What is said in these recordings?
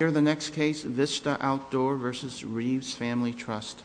v. Reeves Family Trust.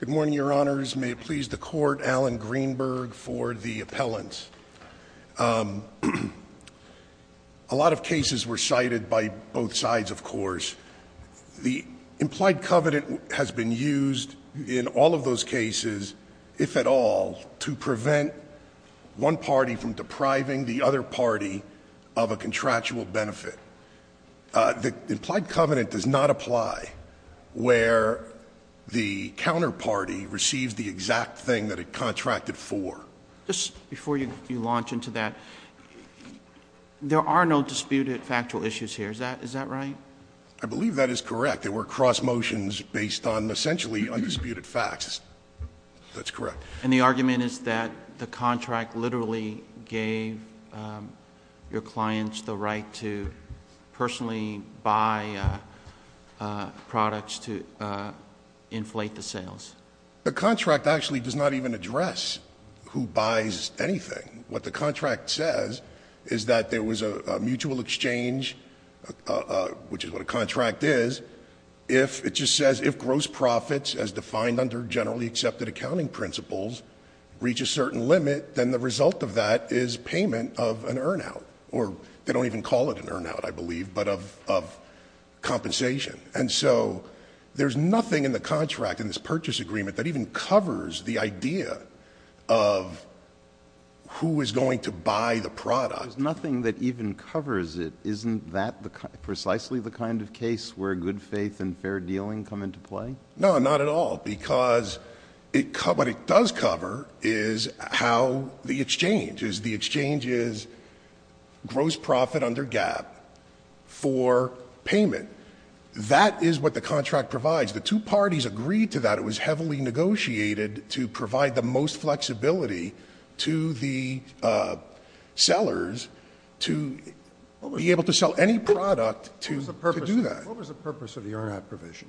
Good morning, Your Honors. May it please the court, Alan Greenberg for the appellants. A lot of cases were cited by both sides, of course. The implied covenant has been used in all of those cases, if at all, to prevent one party from depriving the other party of a contractual benefit. The implied covenant does not apply where the counterparty receives the exact thing that it contracted for. Just before you launch into that, there are no disputed factual issues here, is that right? I believe that is correct. There were cross motions based on essentially undisputed facts. That's correct. And the argument is that the contract literally gave your clients the right to personally buy products to inflate the sales. The contract actually does not even address who buys anything. What the contract says is that there was a mutual exchange, which is what a contract is. It just says if gross profits, as defined under generally accepted accounting principles, reach a certain limit, then the result of that is payment of an earn out. Or they don't even call it an earn out, I believe, but of compensation. And so there's nothing in the contract, in this purchase agreement, that even covers the idea of who is going to buy the product. There's nothing that even covers it. Isn't that precisely the kind of case where good faith and fair dealing come into play? No, not at all, because what it does cover is how the exchange is. The exchange is gross profit under gap for payment. That is what the contract provides. The two parties agreed to that. And it was heavily negotiated to provide the most flexibility to the sellers to be able to sell any product to do that. What was the purpose of the earn out provision?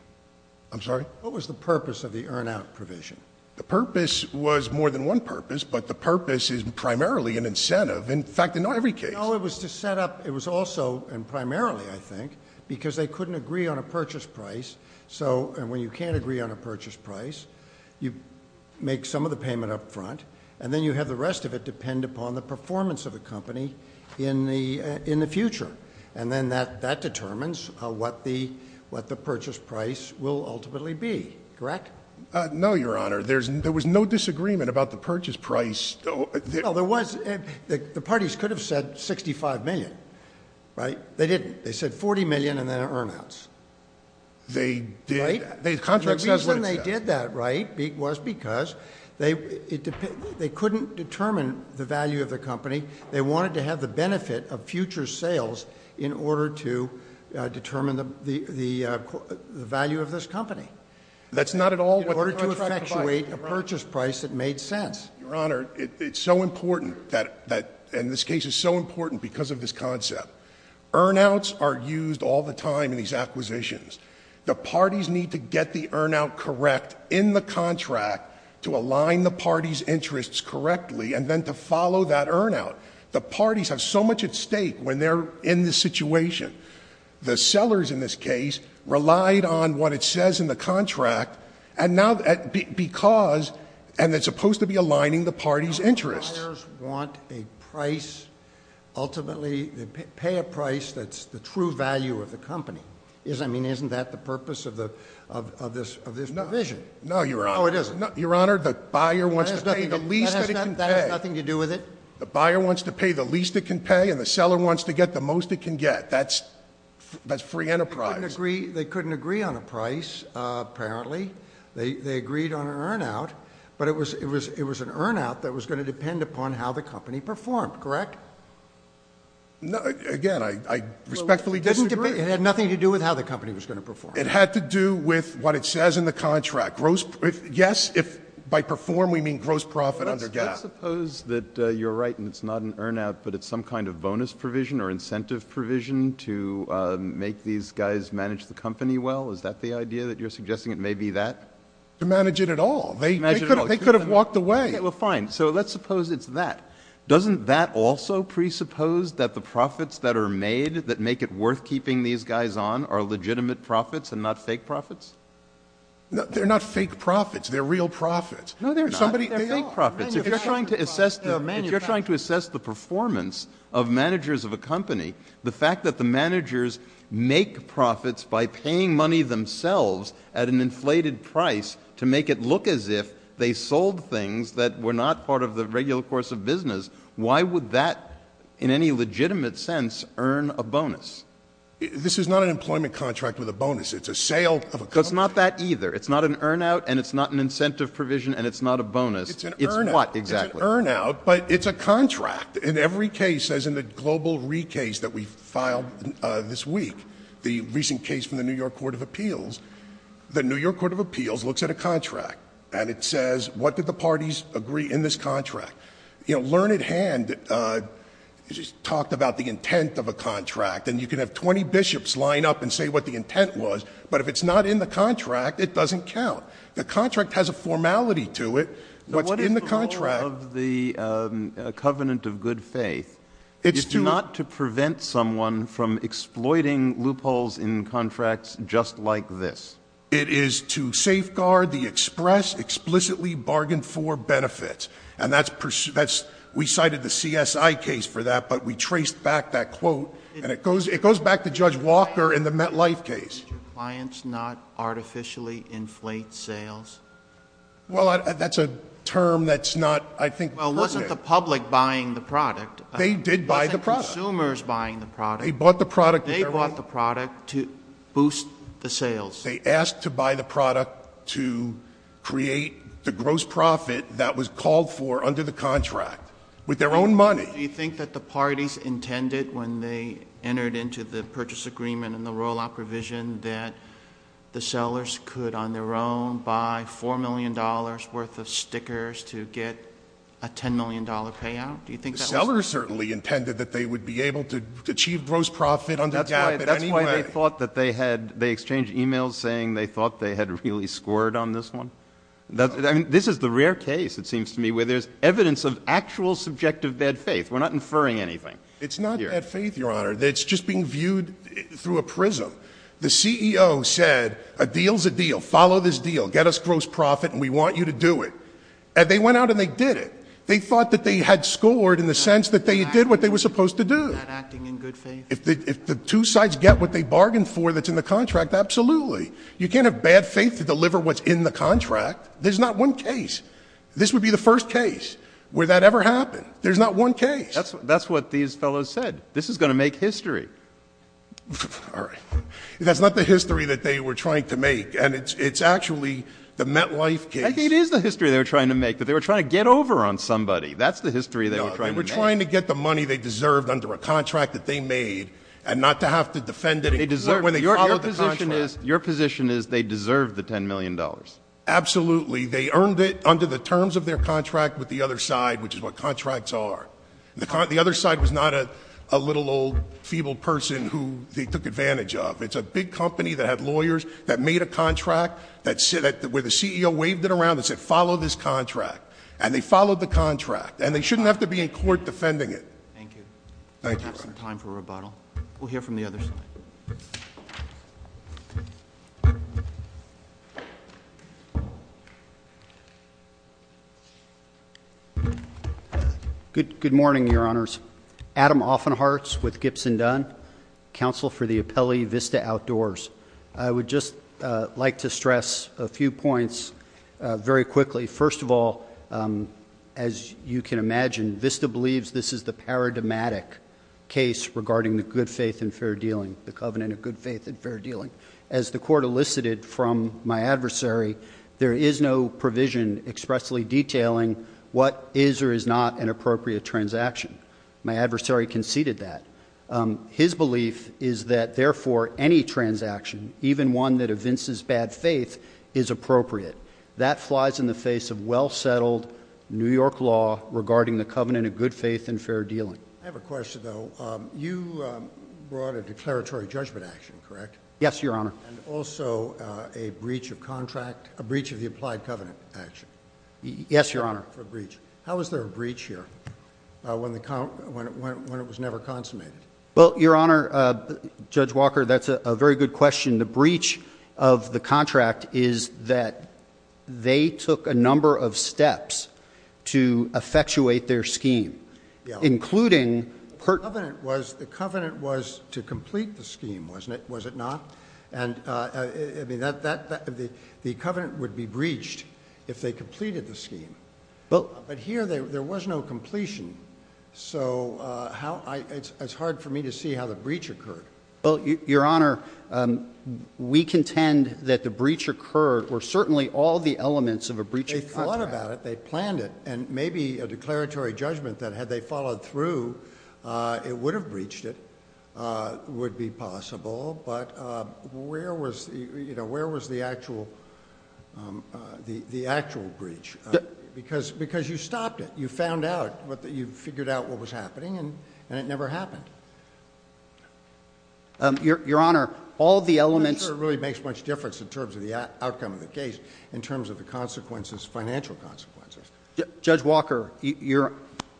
I'm sorry? What was the purpose of the earn out provision? The purpose was more than one purpose, but the purpose is primarily an incentive. In fact, in not every case. No, it was to set up, it was also, and primarily, I think, because they couldn't agree on a purchase price. So, and when you can't agree on a purchase price, you make some of the payment up front, and then you have the rest of it depend upon the performance of the company in the future. And then that determines what the purchase price will ultimately be, correct? No, your honor. There was no disagreement about the purchase price. No, there was. The parties could have said 65 million, right? They didn't. They said 40 million and then an earn outs. They did that. The contract says what it says. The reason they did that, right, was because they couldn't determine the value of the company. They wanted to have the benefit of future sales in order to determine the value of this company. That's not at all what the contract provides. In order to effectuate a purchase price that made sense. Your honor, it's so important that, and this case is so important because of this concept. Earn outs are used all the time in these acquisitions. The parties need to get the earn out correct in the contract to align the party's interests correctly and then to follow that earn out. The parties have so much at stake when they're in this situation. The sellers in this case relied on what it says in the contract and now because, and it's supposed to be aligning the party's interests. Buyers want a price, ultimately, they pay a price that's the true value of the company. I mean, isn't that the purpose of this provision? No, your honor. No, it isn't. Your honor, the buyer wants to pay the least that it can pay. That has nothing to do with it. The buyer wants to pay the least it can pay and the seller wants to get the most it can get. That's free enterprise. They couldn't agree on a price, apparently. They agreed on an earn out, but it was an earn out that was going to depend upon how the company performed, correct? Again, I respectfully disagree. It had nothing to do with how the company was going to perform. It had to do with what it says in the contract. Yes, by perform we mean gross profit under gap. Let's suppose that you're right and it's not an earn out, but it's some kind of bonus provision or incentive provision to make these guys manage the company well. Is that the idea that you're suggesting it may be that? To manage it at all. They could have walked away. Okay, well fine. So let's suppose it's that. Doesn't that also presuppose that the profits that are made that make it worth keeping these guys on are legitimate profits and not fake profits? They're not fake profits. They're real profits. No, they're not. They're fake profits. If you're trying to assess the performance of managers of a company, the fact that the managers make profits by paying money themselves at an inflated price to make it look as if they sold things that were not part of the regular course of business. Why would that, in any legitimate sense, earn a bonus? This is not an employment contract with a bonus. It's a sale of a company. It's not that either. It's not an earn out, and it's not an incentive provision, and it's not a bonus. It's an earn out. It's what exactly? It's an earn out, but it's a contract. In every case, as in the global recase that we filed this week, the recent case from the New York Court of Appeals. The New York Court of Appeals looks at a contract, and it says, what did the parties agree in this contract? Learned Hand just talked about the intent of a contract, and you can have 20 bishops line up and say what the intent was, but if it's not in the contract, it doesn't count. The contract has a formality to it. What's in the contract- What is the role of the covenant of good faith? It's not to prevent someone from exploiting loopholes in contracts just like this. It is to safeguard the express, explicitly bargained for benefits. And that's, we cited the CSI case for that, but we traced back that quote, and it goes back to Judge Walker in the MetLife case. Do clients not artificially inflate sales? Well, that's a term that's not, I think- Well, it wasn't the public buying the product. They did buy the product. It wasn't consumers buying the product. They bought the product. They bought the product to boost the sales. They asked to buy the product to create the gross profit that was called for under the contract with their own money. Do you think that the parties intended when they entered into the purchase agreement and the rollout provision that the sellers could, on their own, buy $4 million worth of stickers to get a $10 million payout? Do you think that was- Sellers certainly intended that they would be able to achieve gross profit under GAAP at any rate. That's why they thought that they had, they exchanged emails saying they thought they had really scored on this one. This is the rare case, it seems to me, where there's evidence of actual subjective bad faith. We're not inferring anything. It's not bad faith, Your Honor. It's just being viewed through a prism. The CEO said, a deal's a deal, follow this deal, get us gross profit, and we want you to do it. And they went out and they did it. They thought that they had scored in the sense that they did what they were supposed to do. Not acting in good faith. If the two sides get what they bargained for that's in the contract, absolutely. You can't have bad faith to deliver what's in the contract. There's not one case. This would be the first case where that ever happened. There's not one case. That's what these fellows said. This is going to make history. All right. That's not the history that they were trying to make. And it's actually the MetLife case. I think it is the history they were trying to make. But they were trying to get over on somebody. That's the history they were trying to make. No, they were trying to get the money they deserved under a contract that they made. And not to have to defend it when they followed the contract. Your position is they deserved the $10 million. Absolutely. They earned it under the terms of their contract with the other side, which is what contracts are. The other side was not a little old feeble person who they took advantage of. It's a big company that had lawyers that made a contract where the CEO waved it around and said, follow this contract. And they followed the contract. And they shouldn't have to be in court defending it. Thank you. Thank you, sir. We have some time for rebuttal. We'll hear from the other side. Good morning, your honors. Adam Offenhearts with Gibson Dunn, counsel for the appellee Vista Outdoors. I would just like to stress a few points very quickly. First of all, as you can imagine, Vista believes this is the paradigmatic case regarding the good faith and fair dealing. The covenant of good faith and fair dealing. As the court elicited from my adversary, there is no provision expressly detailing what is or is not an appropriate transaction. My adversary conceded that. His belief is that, therefore, any transaction, even one that evinces bad faith, is appropriate. That flies in the face of well settled New York law regarding the covenant of good faith and fair dealing. I have a question, though. You brought a declaratory judgment action, correct? Yes, your honor. And also a breach of contract, a breach of the applied covenant action. Yes, your honor. How is there a breach here when it was never consummated? Well, your honor, Judge Walker, that's a very good question. The breach of the contract is that they took a number of steps to effectuate their scheme. Including- The covenant was to complete the scheme, wasn't it? Was it not? And the covenant would be breached if they completed the scheme. But here there was no completion. So it's hard for me to see how the breach occurred. Well, your honor, we contend that the breach occurred, or certainly all the elements of a breach of contract- They thought about it. They planned it. And maybe a declaratory judgment that had they followed through, it would have breached it, would be possible. But where was the actual breach? Because you stopped it. You found out, you figured out what was happening, and it never happened. Your honor, all the elements- I'm not sure it really makes much difference in terms of the outcome of the case, in terms of the consequences, financial consequences. Judge Walker, you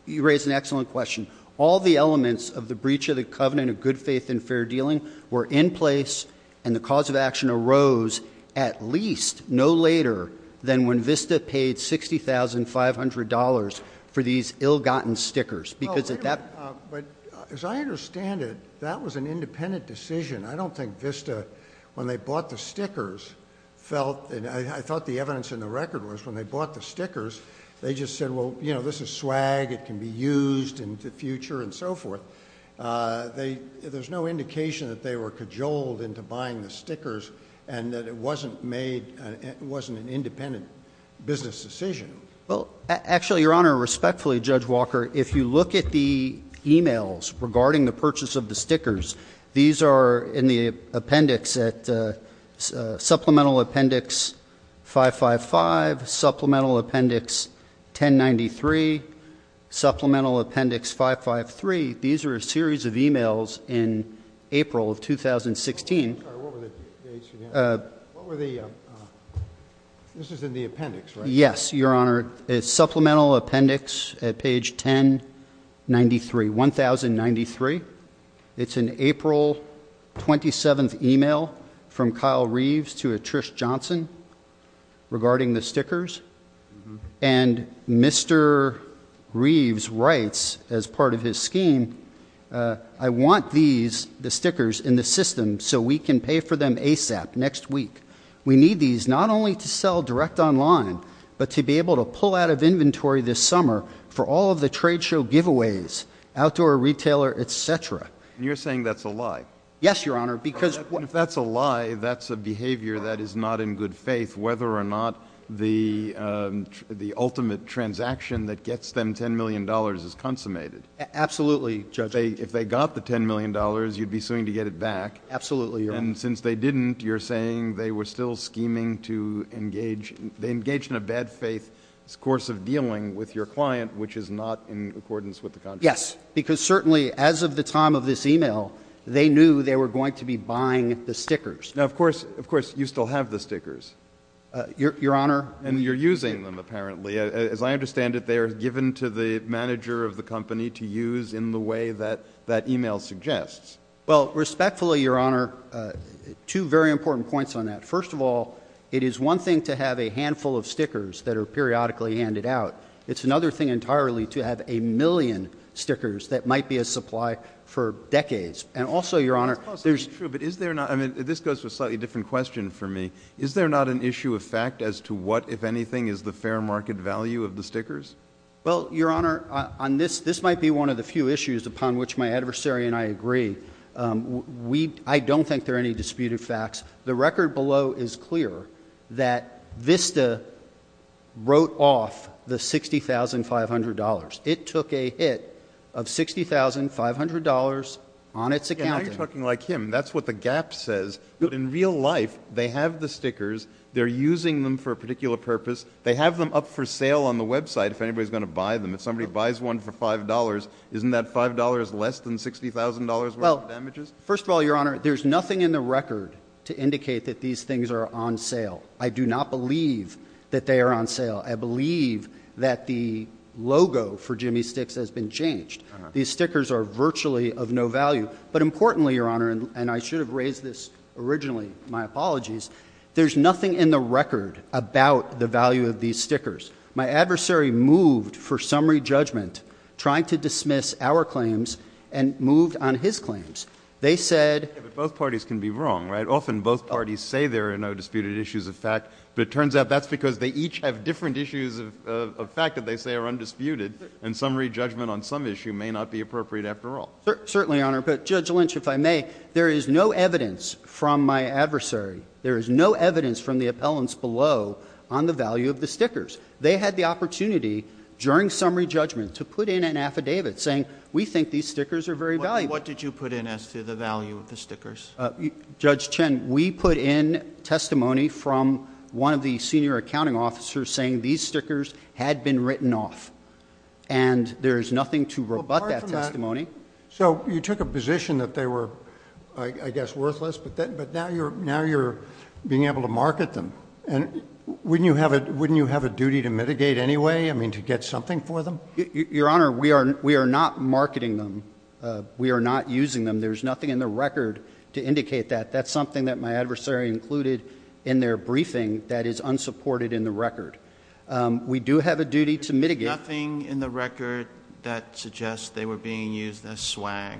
raised an excellent question. All the elements of the breach of the covenant of good faith and fair dealing were in place, and the cause of action arose at least no later than when Vista paid $60,500 for these ill-gotten stickers. Because at that- But as I understand it, that was an independent decision. I don't think Vista, when they bought the stickers, felt, and I thought the evidence in the record was, when they bought the stickers, they just said, well, this is swag, it can be used in the future, and so forth. There's no indication that they were cajoled into buying the stickers, and that it wasn't made, it wasn't an independent business decision. Well, actually, your honor, respectfully, Judge Walker, if you look at the emails regarding the purchase of the stickers, these are in the appendix at Supplemental Appendix 555, Supplemental Appendix 1093, Supplemental Appendix 553. These are a series of emails in April of 2016. I'm sorry, what were the dates again? What were the, this is in the appendix, right? Yes, your honor. It's Supplemental Appendix at page 1093, 1093. It's an April 27th email from Kyle Reeves to Attrish Johnson regarding the stickers. And Mr. Reeves writes, as part of his scheme, I want these, the stickers, in the system so we can pay for them ASAP next week. We need these not only to sell direct online, but to be able to pull out of inventory this summer for all of the trade show giveaways, outdoor retailer, etc. And you're saying that's a lie? Yes, your honor, because- If that's a lie, that's a behavior that is not in good faith, whether or not the ultimate transaction that gets them $10 million is consummated. Absolutely, Judge. If they got the $10 million, you'd be suing to get it back. Absolutely, your honor. And since they didn't, you're saying they were still scheming to engage, they engaged in a bad faith course of dealing with your client, which is not in accordance with the contract? Yes, because certainly as of the time of this email, they knew they were going to be buying the stickers. Now of course, you still have the stickers. Your honor. And you're using them, apparently. As I understand it, they are given to the manager of the company to use in the way that that email suggests. Well, respectfully, your honor, two very important points on that. First of all, it is one thing to have a handful of stickers that are periodically handed out. It's another thing entirely to have a million stickers that might be a supply for decades. And also, your honor, there's- That's possibly true, but is there not, I mean, this goes to a slightly different question for me. Is there not an issue of fact as to what, if anything, is the fair market value of the stickers? Well, your honor, on this, this might be one of the few issues upon which my adversary and I agree. I don't think there are any disputed facts. The record below is clear that Vista wrote off the $60,500. It took a hit of $60,500 on its accountant. Yeah, now you're talking like him. That's what the gap says. But in real life, they have the stickers. They're using them for a particular purpose. They have them up for sale on the website if anybody's going to buy them. If somebody buys one for $5, isn't that $5 less than $60,000 worth of damages? First of all, your honor, there's nothing in the record to indicate that these things are on sale. I do not believe that they are on sale. I believe that the logo for Jimmy Sticks has been changed. These stickers are virtually of no value. But importantly, your honor, and I should have raised this originally, my apologies, there's nothing in the record about the value of these stickers. My adversary moved for summary judgment, trying to dismiss our claims, and moved on his claims. They said- But both parties can be wrong, right? Often both parties say there are no disputed issues of fact. But it turns out that's because they each have different issues of fact that they say are undisputed. And summary judgment on some issue may not be appropriate after all. Certainly, your honor. But Judge Lynch, if I may, there is no evidence from my adversary. There is no evidence from the appellants below on the value of the stickers. They had the opportunity during summary judgment to put in an affidavit saying we think these stickers are very valuable. What did you put in as to the value of the stickers? Judge Chen, we put in testimony from one of the senior accounting officers saying these stickers had been written off. And there is nothing to rebut that testimony. So you took a position that they were, I guess, worthless, but now you're being able to market them. And wouldn't you have a duty to mitigate anyway? I mean, to get something for them? Your honor, we are not marketing them. We are not using them. There's nothing in the record to indicate that. That's something that my adversary included in their briefing that is unsupported in the record. We do have a duty to mitigate. There's nothing in the record that suggests they were being used as swag.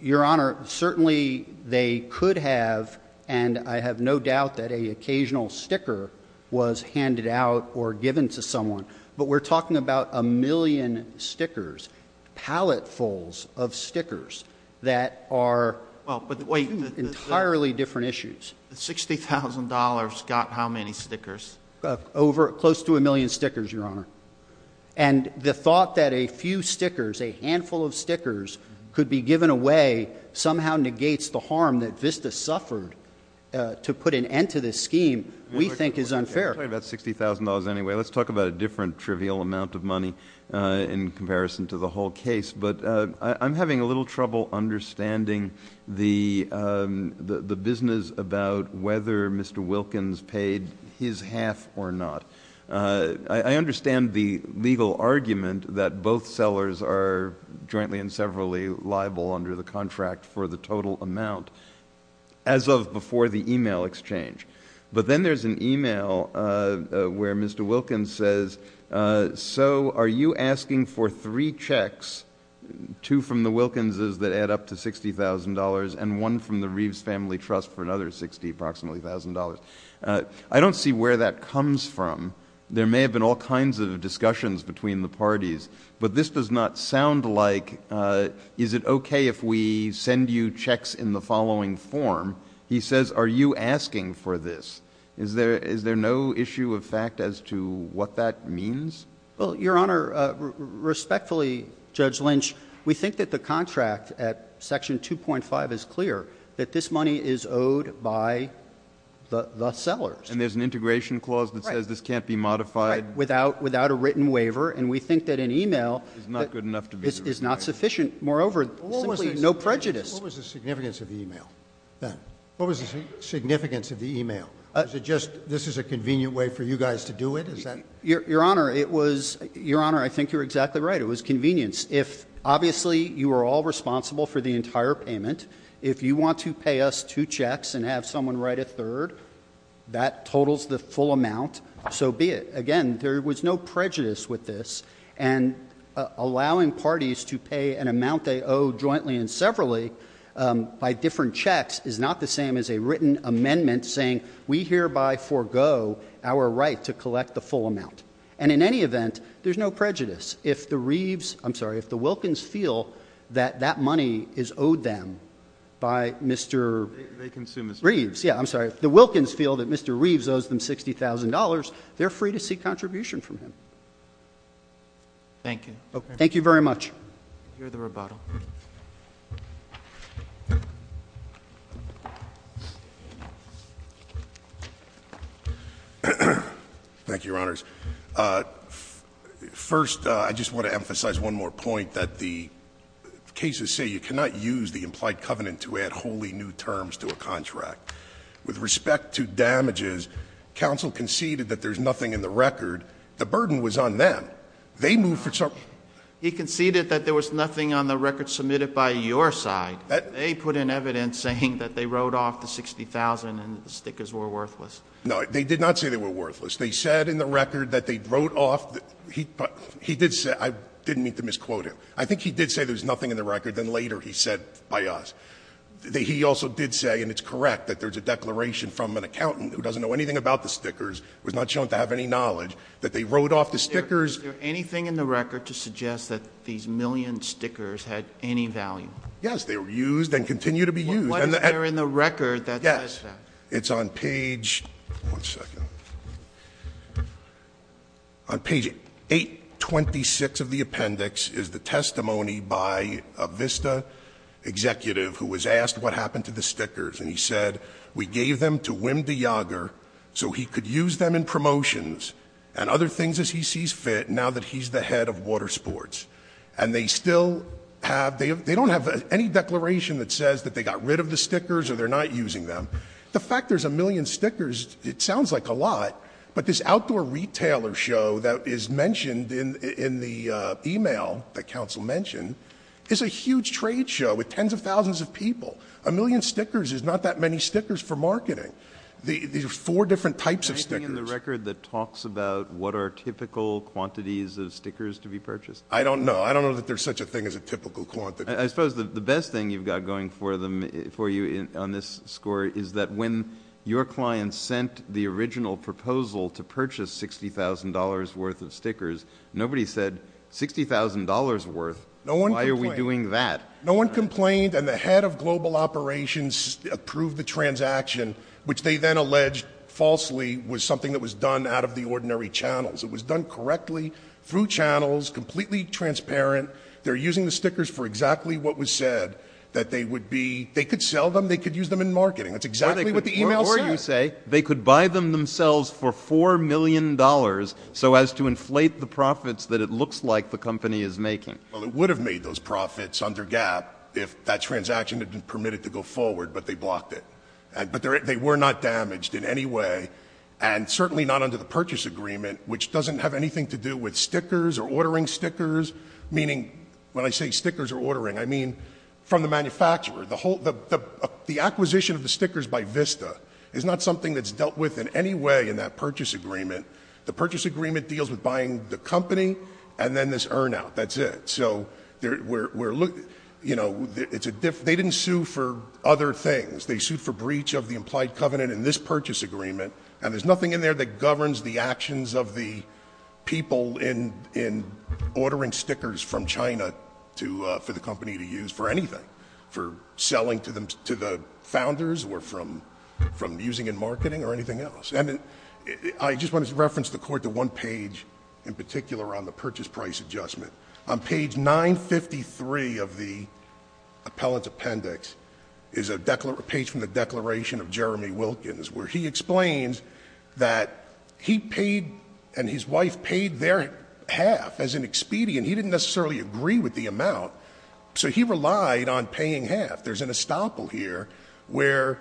Your honor, certainly they could have, and I have no doubt that a occasional sticker was handed out or given to someone. But we're talking about a million stickers, pallet fulls of stickers that are entirely different issues. $60,000 got how many stickers? Close to a million stickers, your honor. And the thought that a few stickers, a handful of stickers could be given away somehow negates the harm that Vista suffered to put an end to this scheme, we think is unfair. I'm talking about $60,000 anyway. Let's talk about a different trivial amount of money in comparison to the whole case. But I'm having a little trouble understanding the business issues about whether Mr. Wilkins paid his half or not. I understand the legal argument that both sellers are jointly and severally liable under the contract for the total amount as of before the email exchange. But then there's an email where Mr. Wilkins says, so are you asking for three checks, two from the Wilkinses that add up to $60,000 and one from the Reeves Family Trust for another $60,000 approximately. I don't see where that comes from. There may have been all kinds of discussions between the parties. But this does not sound like, is it okay if we send you checks in the following form? He says, are you asking for this? Is there no issue of fact as to what that means? Well, Your Honor, respectfully, Judge Lynch, we think that the contract at section 2.5 is clear, that this money is owed by the sellers. And there's an integration clause that says this can't be modified. Right, without a written waiver. And we think that an email is not sufficient. Moreover, simply no prejudice. What was the significance of the email then? What was the significance of the email? Is it just, this is a convenient way for you guys to do it, is that? Your Honor, I think you're exactly right. It was convenience. If, obviously, you are all responsible for the entire payment. If you want to pay us two checks and have someone write a third, that totals the full amount. So be it. Again, there was no prejudice with this. And allowing parties to pay an amount they owe jointly and severally by different checks is not the same as a written amendment saying, we hereby forego our right to collect the full amount. And in any event, there's no prejudice. If the Wilkins feel that that money is owed them by Mr. Reeves, yeah, I'm sorry, if the Wilkins feel that Mr. Reeves owes them $60,000, they're free to seek contribution from him. Thank you. Thank you very much. Hear the rebuttal. Thank you, Your Honors. First, I just want to emphasize one more point that the cases say you cannot use the implied covenant to add wholly new terms to a contract. With respect to damages, counsel conceded that there's nothing in the record. The burden was on them. They moved for some. He conceded that there was nothing on the record submitted by your side. They put in evidence saying that they wrote off the 60,000 and the stickers were worthless. No, they did not say they were worthless. They said in the record that they wrote off, he did say, I didn't mean to misquote him. I think he did say there's nothing in the record, then later he said by us. He also did say, and it's correct, that there's a declaration from an accountant who doesn't know anything about the stickers, was not shown to have any knowledge, that they wrote off the stickers. Is there anything in the record to suggest that these million stickers had any value? Yes, they were used and continue to be used. And- What is there in the record that says that? It's on page, one second. On page 826 of the appendix is the testimony by a Vista executive who was asked what happened to the stickers and he said, we gave them to Wim de Jager so he could use them in promotions and other things as he sees fit now that he's the head of water sports. And they still have, they don't have any declaration that says that they got rid of the stickers or they're not using them. The fact there's a million stickers, it sounds like a lot. But this outdoor retailer show that is mentioned in the email, the council mentioned, is a huge trade show with tens of thousands of people. A million stickers is not that many stickers for marketing. These are four different types of stickers. Is there anything in the record that talks about what are typical quantities of stickers to be purchased? I don't know. I don't know that there's such a thing as a typical quantity. I suppose the best thing you've got going for you on this score is that when your client sent the original proposal to purchase $60,000 worth of stickers, nobody said $60,000 worth, why are we doing that? No one complained and the head of global operations approved the transaction, which they then alleged falsely was something that was done out of the ordinary channels. It was done correctly through channels, completely transparent. They're using the stickers for exactly what was said, that they would be, they could sell them, they could use them in marketing. That's exactly what the email says. Or you say, they could buy them themselves for $4 million so as to inflate the profits that it looks like the company is making. Well, it would have made those profits under GAAP if that transaction had been permitted to go forward, but they blocked it. But they were not damaged in any way. And certainly not under the purchase agreement, which doesn't have anything to do with stickers or ordering stickers. Meaning, when I say stickers or ordering, I mean from the manufacturer. The acquisition of the stickers by Vista is not something that's dealt with in any way in that purchase agreement. The purchase agreement deals with buying the company and then this earn out, that's it. So they didn't sue for other things. They sued for breach of the implied covenant in this purchase agreement. And there's nothing in there that governs the actions of the people in ordering stickers from China for the company to use for anything, for selling to the founders or from using in marketing or anything else. And I just want to reference the court to one page in particular on the purchase price adjustment. On page 953 of the appellant's appendix is a page from the declaration of Jeremy Wilkins. Where he explains that he paid and his wife paid their half as an expedient. He didn't necessarily agree with the amount. So he relied on paying half. There's an estoppel here where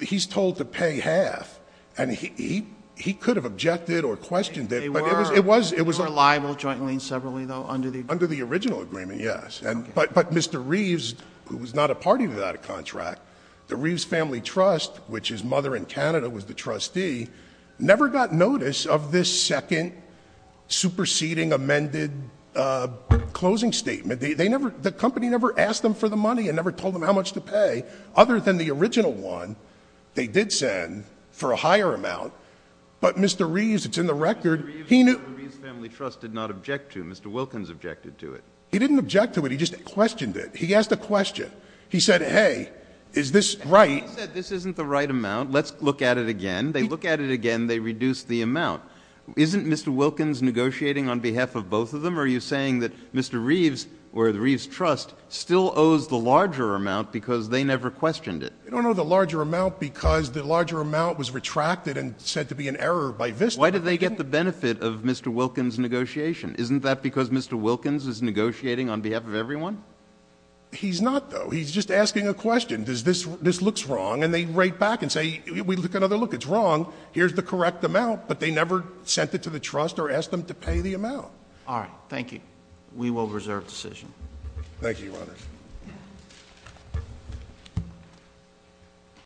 he's told to pay half. And he could have objected or questioned it. It was a liable jointly and separately though under the original agreement, yes. But Mr. Reeves, who was not a party to that contract, the Reeves Family Trust, which his mother in Canada was the trustee, never got notice of this second superseding amended closing statement, the company never asked them for the money and never told them how much to pay other than the original one they did send for a higher amount. But Mr. Reeves, it's in the record, he knew- Mr. Reeves and the Reeves Family Trust did not object to, Mr. Wilkins objected to it. He didn't object to it, he just questioned it. He asked a question. He said, hey, is this right? He said, this isn't the right amount, let's look at it again. They look at it again, they reduce the amount. Isn't Mr. Wilkins negotiating on behalf of both of them? Or are you saying that Mr. Reeves or the Reeves Trust still owes the larger amount because they never questioned it? I don't know the larger amount because the larger amount was retracted and said to be an error by this- Why did they get the benefit of Mr. Wilkins' negotiation? Isn't that because Mr. Wilkins is negotiating on behalf of everyone? He's not, though. He's just asking a question. Does this, this looks wrong, and they write back and say, we look another look, it's wrong. Here's the correct amount, but they never sent it to the trust or asked them to pay the amount. We will reserve decision. Thank you, Your Honor. Thank you.